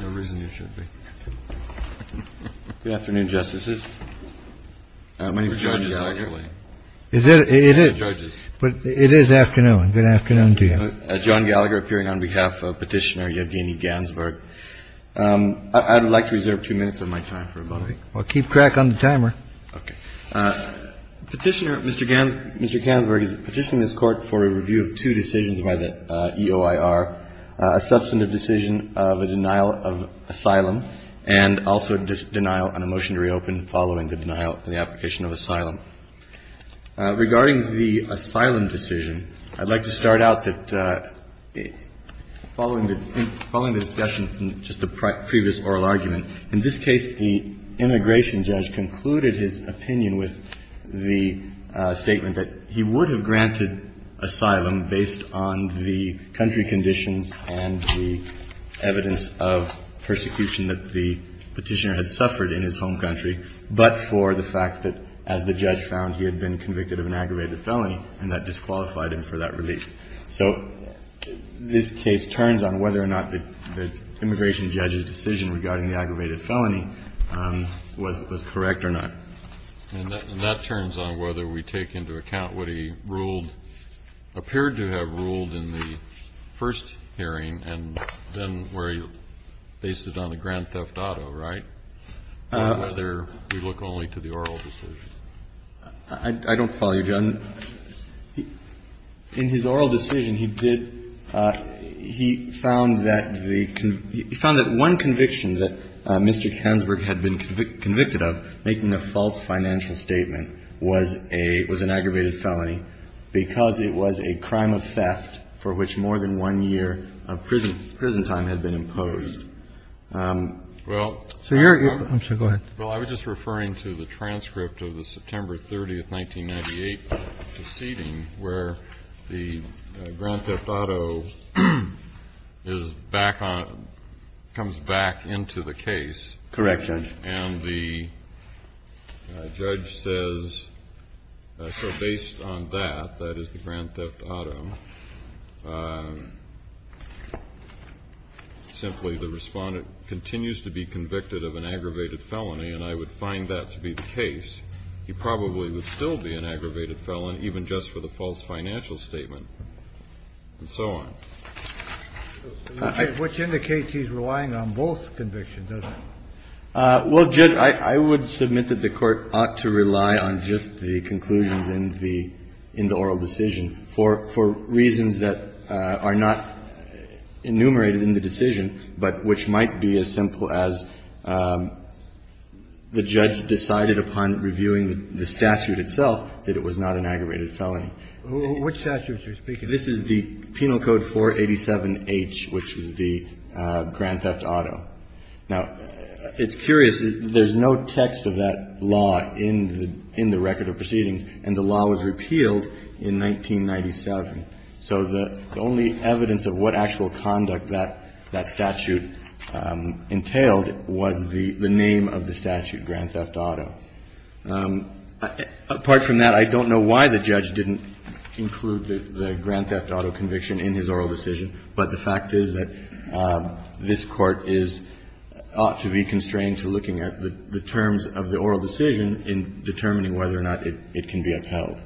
No reason you should be. Good afternoon, Justices. My name is John Gallagher. Is it? It is. But it is afternoon. Good afternoon to you. John Gallagher appearing on behalf of Petitioner Yevgeny Gansberg. I'd like to reserve two minutes of my time for a moment. I'll keep track on the timer. OK. Petitioner, Mr. Gansberg, Mr. Gansberg is petitioning this court for a review of two decisions by the EOIR, a substantive decision of a denial of asylum and also a denial on a motion to reopen following the denial and the application of asylum. Regarding the asylum decision, I'd like to start out that following the following the discussion from just the previous oral argument, in this case, the immigration judge concluded his opinion with the statement that he would have granted asylum based on the country conditions and the evidence of persecution that the petitioner had suffered in his home country, but for the fact that, as the judge found, he had been convicted of an aggravated felony, and that disqualified him for that release. So this case turns on whether or not the immigration judge's decision regarding the aggravated felony was correct or not. And that turns on whether we take into account what he ruled, appeared to have ruled in the first hearing, and then where he based it on the grand theft auto, right, whether we look only to the oral decision. I don't follow you, John. In his oral decision, he did – he found that the – he found that one conviction that Mr. Hansburg had been convicted of, making a false financial statement, was a – was an aggravated felony because it was a crime of theft for which more than one year of prison time had been imposed. Well, I was just referring to the transcript of the September 30th, 1998, proceeding, where the grand theft auto is back on – comes back into the case. Correct, Judge. And the judge says, so based on that, that is the grand theft auto, simply the respondent continues to be convicted of an aggravated felony, and I would find that to be the case. He probably would still be an aggravated felon even just for the false financial statement, and so on. Which indicates he's relying on both convictions, doesn't he? Well, Judge, I would submit that the Court ought to rely on just the conclusions in the – in the oral decision for reasons that are not enumerated in the decision, but which might be as simple as the judge decided upon reviewing the statute itself that it was not an aggravated felony. Which statute are you speaking of? This is the Penal Code 487H, which is the grand theft auto. Now, it's curious. There's no text of that law in the – in the record of proceedings, and the law was repealed in 1997. So the only evidence of what actual conduct that – that statute entailed was the name of the statute, grand theft auto. Apart from that, I don't know why the judge didn't include the grand theft auto conviction in his oral decision, but the fact is that this Court is – ought to be constrained to looking at the terms of the oral decision in determining whether or not it can be upheld.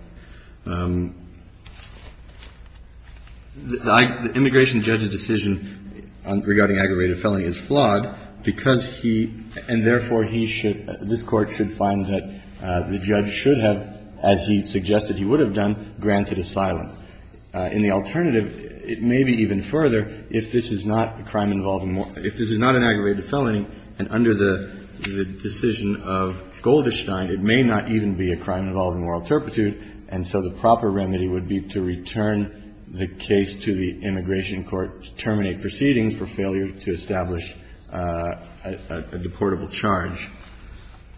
The immigration judge's decision regarding aggravated felony is flawed because he – and therefore, he should – this Court should find that the judge should have, as he suggested he would have done, granted asylum. In the alternative, it may be even further if this is not a crime involving – if this is not an aggravated felony and under the decision of Golderstein, it may not even be a crime involving moral turpitude, and so the proper remedy would be to return the case to the immigration court to terminate proceedings for failure to establish a – a deportable charge.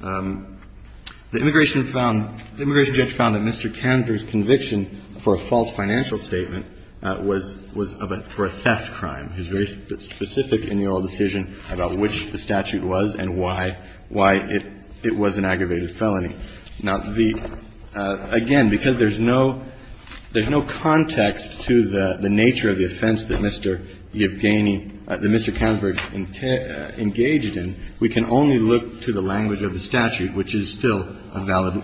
The immigration found – the immigration judge found that Mr. Candor's conviction for a false financial statement was – was for a theft crime. He was very specific in the oral decision about which the statute was and why – why it – it was an aggravated felony. Now, the – again, because there's no – there's no context to the nature of the offense that Mr. Yevgeny – that Mr. Kanzberg engaged in, we can only look to the language of the statute, which is still a valid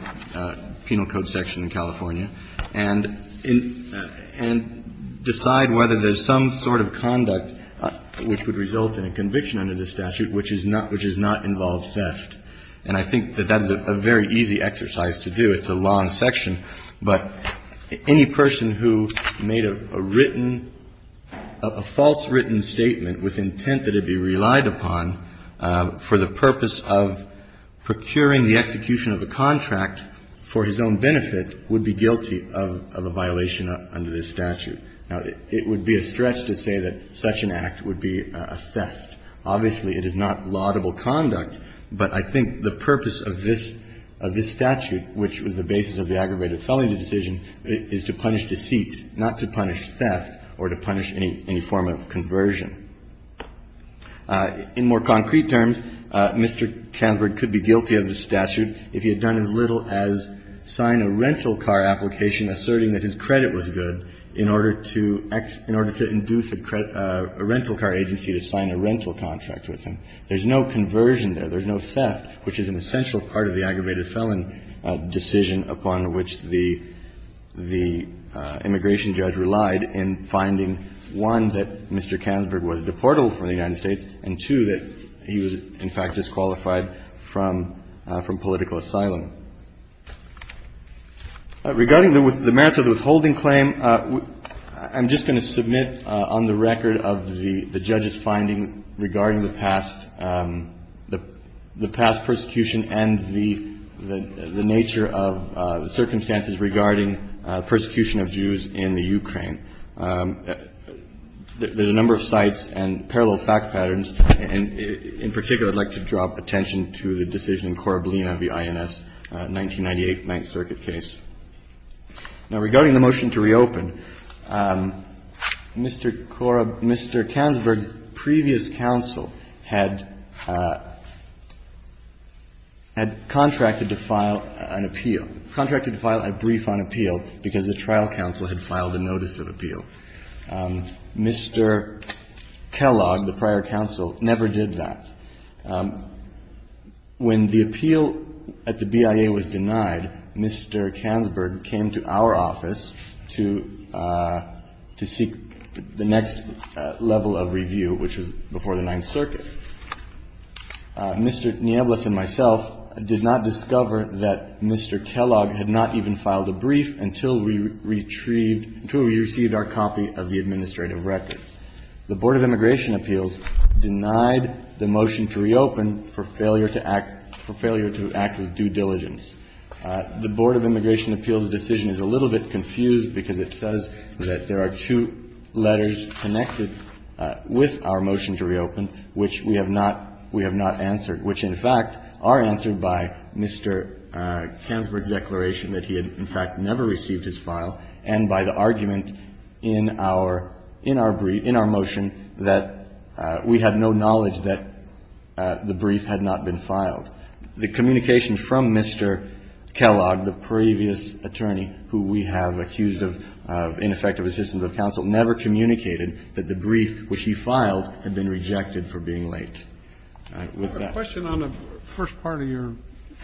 penal code section in California, and in – and decide whether there's some sort of conduct which would result in a conviction under the statute which is not – which does not involve theft. And I think that that is a very easy exercise to do. It's a long section, but any person who made a written – a false written statement with intent that it be relied upon for the purpose of procuring the execution of a contract for his own benefit would be guilty of – of a violation under this statute. Now, it would be a stretch to say that such an act would be a theft. Obviously, it is not laudable conduct, but I think the purpose of this – of this statute, which was the basis of the aggravated felony decision, is to punish deceit, not to punish theft or to punish any – any form of conversion. In more concrete terms, Mr. Kanzberg could be guilty of this statute if he had done as little as sign a rental car application asserting that his credit was good in order to – in order to induce a rental car agency to sign a rental contract with him. There's no conversion there. There's no theft, which is an essential part of the aggravated felony decision upon which the – the immigration judge relied in finding, one, that Mr. Kanzberg was deportable from the United States, and, two, that he was, in fact, disqualified from – from political asylum. Regarding the merits of the withholding claim, I'm just going to submit on the record of the – the judge's finding regarding the past – the past persecution and the – the nature of the circumstances regarding persecution of Jews in the Ukraine. There's a number of sites and parallel fact patterns, and in particular, I'd like to point out that Mr. Kanzberg's previous counsel had – had contracted to file an appeal – contracted to file a brief on appeal because the trial counsel had filed a notice of appeal. Mr. Kellogg, the prior counsel, never did that. on appeal. When the appeal at the BIA was denied, Mr. Kanzberg came to our office to – to seek the next level of review, which was before the Ninth Circuit. Mr. Nieblus and myself did not discover that Mr. Kellogg had not even filed a brief until we retrieved – until we received our copy of the administrative record. The Board of Immigration Appeals denied the motion to reopen for failure to act – for failure to act with due diligence. The Board of Immigration Appeals' decision is a little bit confused because it says that there are two letters connected with our motion to reopen, which we have not – we have not answered, which, in fact, are answered by Mr. Kanzberg's declaration that he had, in fact, never received his file and by the argument in our – in our brief – in our Mr. Kellogg, the previous attorney who we have accused of ineffective assistance of counsel, never communicated that the brief which he filed had been rejected for being late. All right. With that – I have a question on the first part of your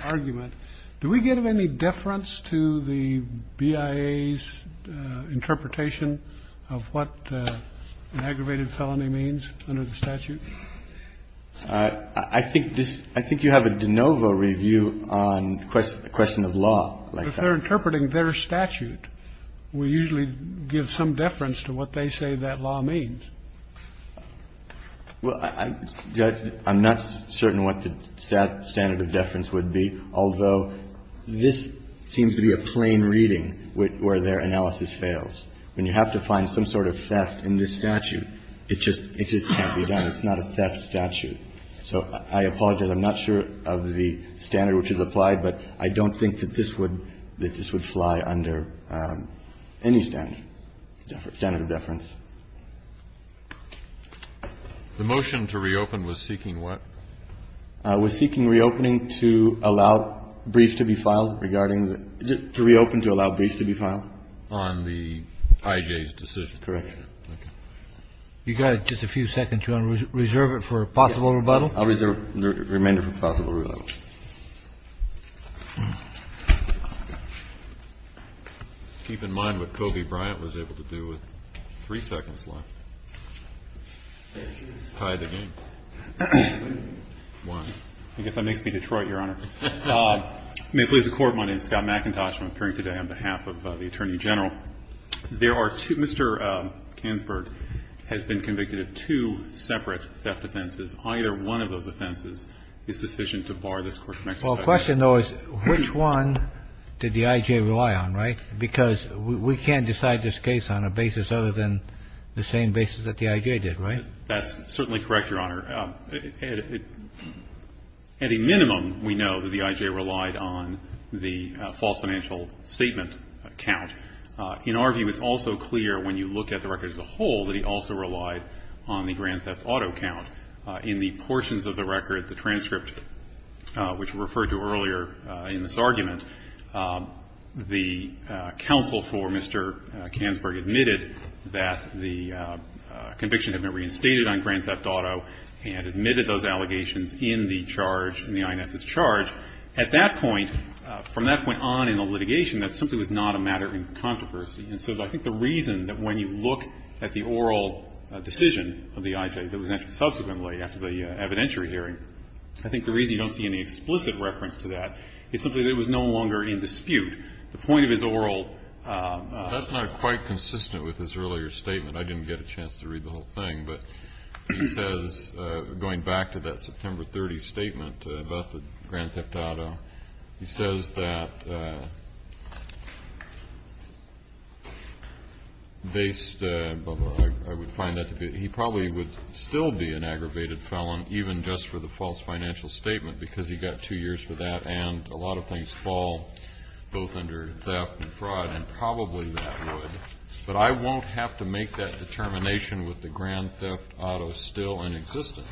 argument. Do we give any deference to the BIA's interpretation of what an aggravated felony means under the statute? I think this – I think you have a de novo review on a question of law like that. If they're interpreting their statute, we usually give some deference to what they say that law means. Well, Judge, I'm not certain what the standard of deference would be, although this seems to be a plain reading where their analysis fails. When you have to find some sort of theft in this statute, it just – it just can't be done. It's not a theft statute. So I apologize. I'm not sure of the standard which is applied, but I don't think that this would – that this would fly under any standard, standard of deference. The motion to reopen was seeking what? It was seeking reopening to allow briefs to be filed regarding the – to reopen to allow briefs to be filed. On the IJ's decision. Correct. Okay. You got just a few seconds. Do you want to reserve it for a possible rebuttal? I'll reserve the remainder for a possible rebuttal. Keep in mind what Kobe Bryant was able to do with three seconds left. Tie the game. One. I guess that makes me Detroit, Your Honor. May it please the Court, my name is Scott McIntosh. I'm appearing today on behalf of the Attorney General. Now, there are two – Mr. Kansberg has been convicted of two separate theft offenses. Either one of those offenses is sufficient to bar this Court from exercising it. Well, the question, though, is which one did the IJ rely on, right? Because we can't decide this case on a basis other than the same basis that the IJ did, right? That's certainly correct, Your Honor. At a minimum, we know that the IJ relied on the false financial statement count. In our view, it's also clear when you look at the record as a whole that he also relied on the grand theft auto count. In the portions of the record, the transcript, which we referred to earlier in this argument, the counsel for Mr. Kansberg admitted that the conviction had been reinstated on grand theft auto and admitted those allegations in the charge, in the INS's charge. At that point, from that point on in the litigation, that simply was not a matter in controversy. And so I think the reason that when you look at the oral decision of the IJ that was entered subsequently after the evidentiary hearing, I think the reason you don't see any explicit reference to that is simply that it was no longer in dispute. The point of his oral ---- That's not quite consistent with his earlier statement. I didn't get a chance to read the whole thing. But he says, going back to that September 30th statement about the grand theft auto, he says that based, I would find that to be, he probably would still be an aggravated felon even just for the false financial statement because he got two years for that, and a lot of things fall both under theft and fraud, and probably that would. But I won't have to make that determination with the grand theft auto still in existence.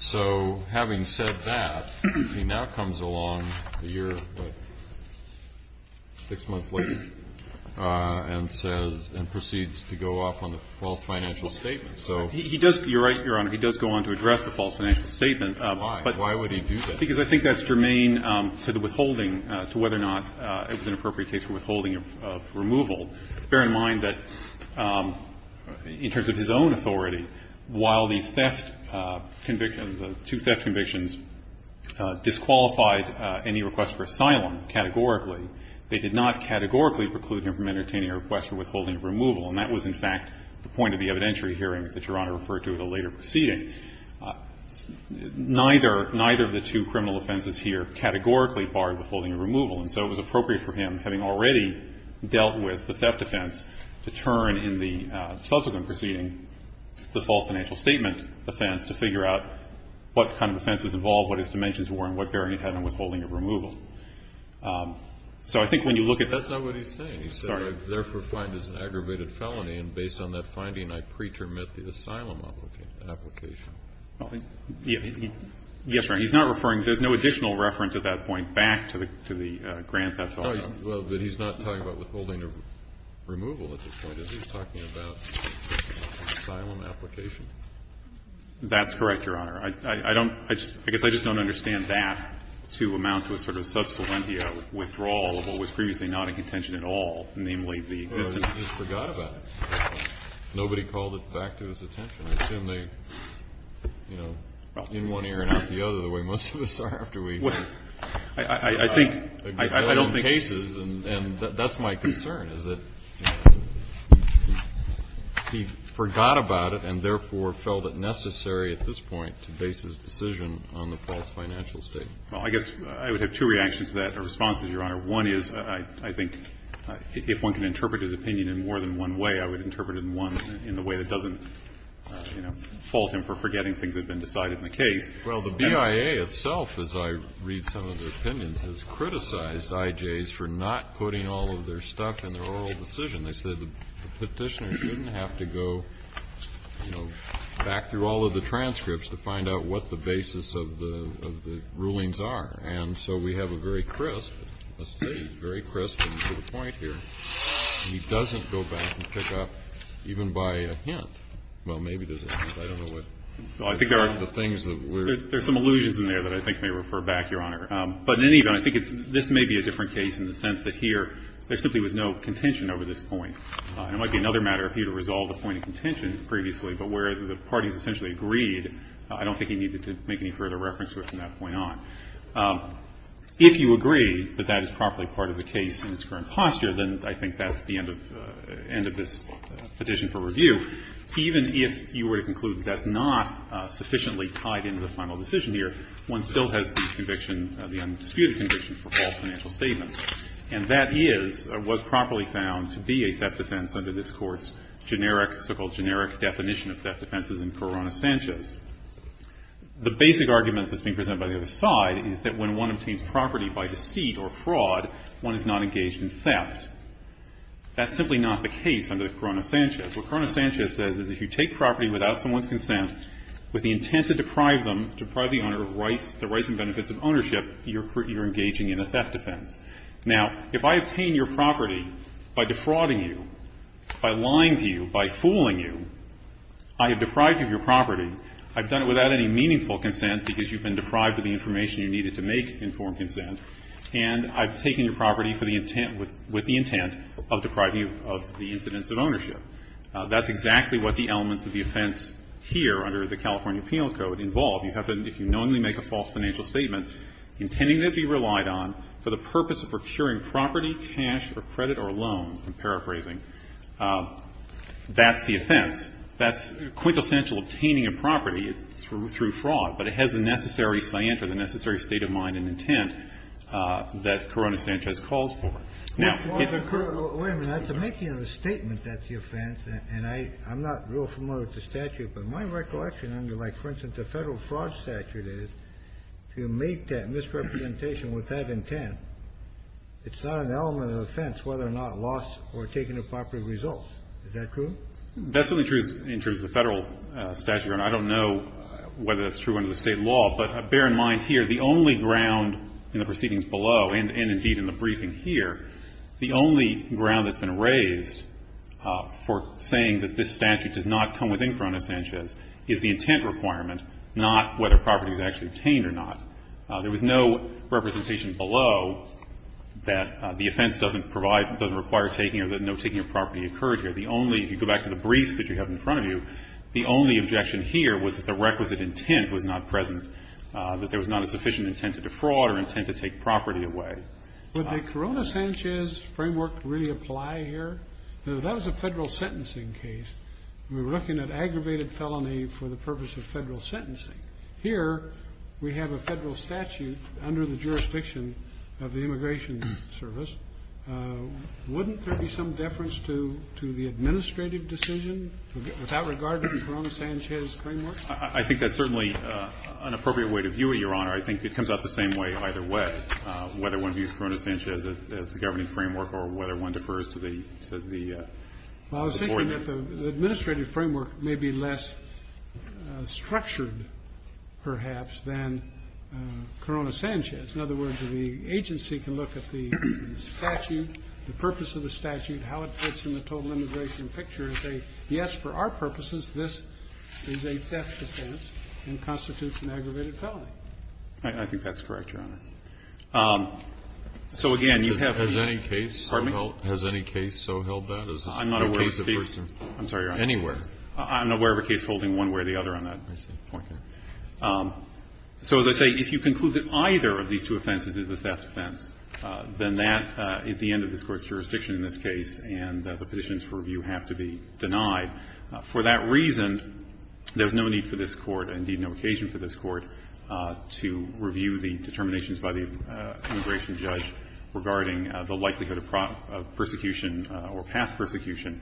So having said that, he now comes along a year, what, six months later, and says, and proceeds to go off on the false financial statement. So he does ---- You're right, Your Honor. He does go on to address the false financial statement. But why would he do that? Because I think that's germane to the withholding, to whether or not it was an appropriate case for withholding of removal. Bear in mind that in terms of his own authority, while these theft convictions or the two theft convictions disqualified any request for asylum categorically, they did not categorically preclude him from entertaining a request for withholding of removal. And that was, in fact, the point of the evidentiary hearing that Your Honor referred to at a later proceeding. Neither of the two criminal offenses here categorically barred withholding of removal. And so it was appropriate for him, having already dealt with the theft offense, to turn in the subsequent proceeding, the false financial statement offense, to figure out what kind of offense was involved, what his dimensions were, and what bearing it had on withholding of removal. So I think when you look at that ---- That's not what he's saying. He said, I therefore find this an aggravated felony. And based on that finding, I pretermit the asylum application. Yes, Your Honor. He's not referring to ---- There's no additional reference at that point back to the grand theft offense. Well, but he's not talking about withholding of removal at this point. He's talking about asylum application. That's correct, Your Honor. I don't ---- I guess I just don't understand that to amount to a sort of subsilentia withdrawal of what was previously not in contention at all, namely the existence ---- Well, he just forgot about it. Nobody called it back to his attention. I assume they, you know, in one ear and out the other, the way most of us are after we ---- Well, I think ---- I don't think -------- agree on cases. And that's my concern, is that he forgot about it and therefore felt it necessary at this point to base his decision on the false financial statement. Well, I guess I would have two reactions to that or responses, Your Honor. One is, I think, if one can interpret his opinion in more than one way, I would interpret it in one in the way that doesn't, you know, fault him for forgetting things that have been decided in the case. Well, the BIA itself, as I read some of their opinions, has criticized IJs for not putting all of their stuff in their oral decision. They said the Petitioner shouldn't have to go, you know, back through all of the transcripts to find out what the basis of the rulings are. And so we have a very crisp, let's say, very crisp point here. He doesn't go back and pick up even by a hint. Well, maybe there's a hint. I don't know what ---- Well, I think there are the things that we're ---- There's some allusions in there that I think may refer back, Your Honor. But in any event, I think it's ---- this may be a different case in the sense that here there simply was no contention over this point. It might be another matter for you to resolve the point of contention previously, but where the parties essentially agreed, I don't think he needed to make any further reference to it from that point on. If you agree that that is properly part of the case in its current posture, then I think that's the end of this petition for review. Even if you were to conclude that that's not sufficiently tied into the final decision here, one still has the conviction, the undisputed conviction for all financial statements. And that is what's properly found to be a theft defense under this Court's generic so-called generic definition of theft defenses in Corona Sanchez. The basic argument that's being presented by the other side is that when one obtains property by deceit or fraud, one is not engaged in theft. That's simply not the case under the Corona Sanchez. What Corona Sanchez says is if you take property without someone's consent with the intent to deprive them, deprive the owner of the rights and benefits of ownership, you're engaging in a theft defense. Now, if I obtain your property by defrauding you, by lying to you, by fooling you, I have done it without any meaningful consent because you've been deprived of the information you needed to make informed consent, and I've taken your property with the intent of depriving you of the incidence of ownership. That's exactly what the elements of the offense here under the California Penal Code involve. You have to, if you knowingly make a false financial statement, intending to be relied on for the purpose of procuring property, cash, or credit, or loans, I'm paraphrasing, that's the offense. That's quintessential obtaining a property through fraud, but it has the necessary stance or the necessary state of mind and intent that Corona Sanchez calls for. Now, if it occurs... Wait a minute. At the making of the statement, that's the offense, and I'm not real familiar with the statute, but my recollection under, like, for instance, the federal fraud statute is if you make that misrepresentation with that intent, it's not an element of the offense whether or not loss or taking of property results. Is that true? That's only true in terms of the federal statute. I don't know whether that's true under the state law, but bear in mind here the only ground in the proceedings below, and indeed in the briefing here, the only ground that's been raised for saying that this statute does not come within Corona Sanchez is the intent requirement, not whether property is actually obtained or not. There was no representation below that the offense doesn't provide, doesn't require taking or that no taking of property occurred here. The only... If you go back to the briefs that you have in front of you, the only objection here was that the requisite intent was not present, that there was not a sufficient intent to defraud or intent to take property away. Would the Corona Sanchez framework really apply here? That was a federal sentencing case. We were looking at aggravated felony for the purpose of federal sentencing. Here we have a federal statute under the jurisdiction of the Immigration Service. Wouldn't there be some deference to the administrative decision without regard to the Corona Sanchez framework? I think that's certainly an appropriate way to view it, Your Honor. I think it comes out the same way either way, whether one views Corona Sanchez as the governing framework or whether one defers to the... Well, I was thinking that the administrative framework may be less structured perhaps than Corona Sanchez. In other words, the agency can look at the statute, the purpose of the statute, how it fits in the total immigration picture as a, yes, for our purposes, this is a death defense and constitutes an aggravated felony. I think that's correct, Your Honor. So again, you have... Has any case so held that? I'm not aware of a case... I'm sorry, Your Honor. Anywhere. I'm not aware of a case holding one way or the other on that point. So as I say, if you conclude that either of these two offenses is a theft offense, then that is the end of this Court's jurisdiction in this case, and the petitions for review have to be denied. For that reason, there's no need for this Court, and indeed no occasion for this Court, to review the determinations by the immigration judge regarding the likelihood of prosecution or past persecution.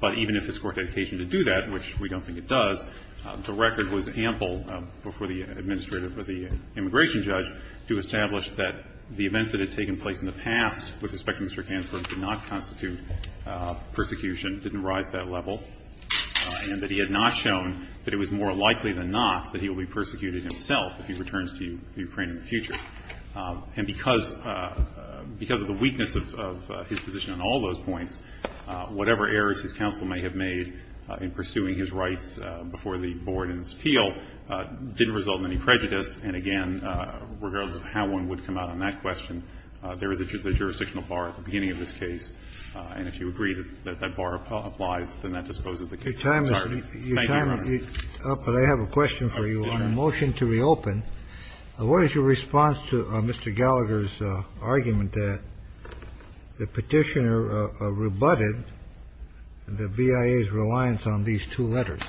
But even if this Court had occasion to do that, which we don't think it does, the administrative or the immigration judge do establish that the events that had taken place in the past with respect to Mr. Hansburg did not constitute persecution, didn't rise to that level, and that he had not shown that it was more likely than not that he will be persecuted himself if he returns to Ukraine in the future. And because of the weakness of his position on all those points, whatever errors his counsel may have made in pursuing his rights before the board in this appeal didn't result in any prejudice. And again, regardless of how one would come out on that question, there is a jurisdictional bar at the beginning of this case, and if you agree that that bar applies, then that disposes the case. I'm sorry. Thank you, Your Honor. Kennedy. But I have a question for you. On the motion to reopen, what is your response to Mr. Gallagher's argument that the BIA's reliance on these two letters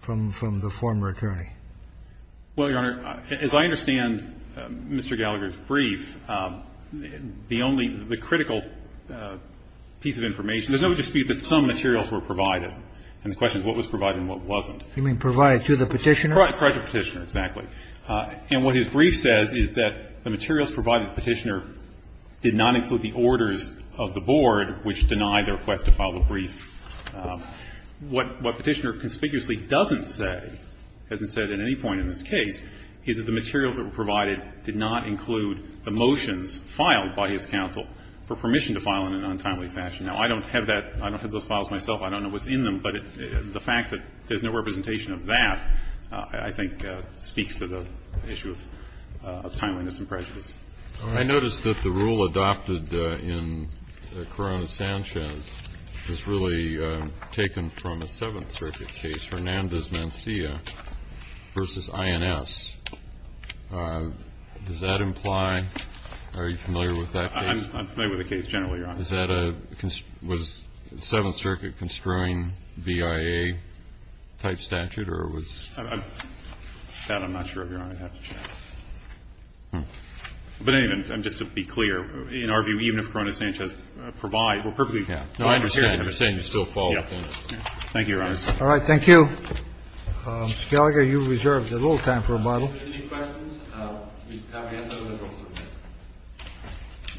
from the former attorney? Well, Your Honor, as I understand Mr. Gallagher's brief, the only — the critical piece of information — there's no dispute that some materials were provided, and the question is what was provided and what wasn't. You mean provided to the Petitioner? Correct, to the Petitioner, exactly. And what his brief says is that the materials provided to the Petitioner did not include the orders of the Board, which denied their request to file the brief. What Petitioner conspicuously doesn't say, as it said at any point in this case, is that the materials that were provided did not include the motions filed by his counsel for permission to file in an untimely fashion. Now, I don't have that — I don't have those files myself. I don't know what's in them, but the fact that there's no representation of that, I think, speaks to the issue of timeliness and prejudice. I notice that the rule adopted in Corona-Sanchez is really taken from a Seventh Circuit case, Hernandez-Mancia v. INS. Does that imply — are you familiar with that case? I'm familiar with the case generally, Your Honor. Is that a — was Seventh Circuit construing BIA-type statute, or was — That I'm not sure, Your Honor. But anyway, just to be clear, in our view, even if Corona-Sanchez provides — We're perfectly — No, I understand. You're saying you still follow that. Thank you, Your Honor. All right. Thank you. Gallagher, you reserved a little time for a bottle. Any questions? Can we answer them in the courtroom?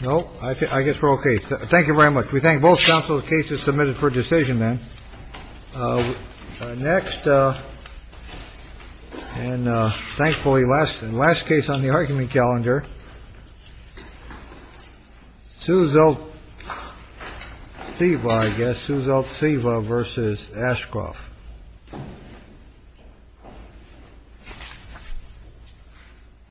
No. I guess we're okay. Thank you very much. We thank both counsels. The case is submitted for decision, then. Next. And thankfully, last and last case on the argument calendar. Seuzelt-Seva, I guess. Seuzelt-Seva v. Ashcroft.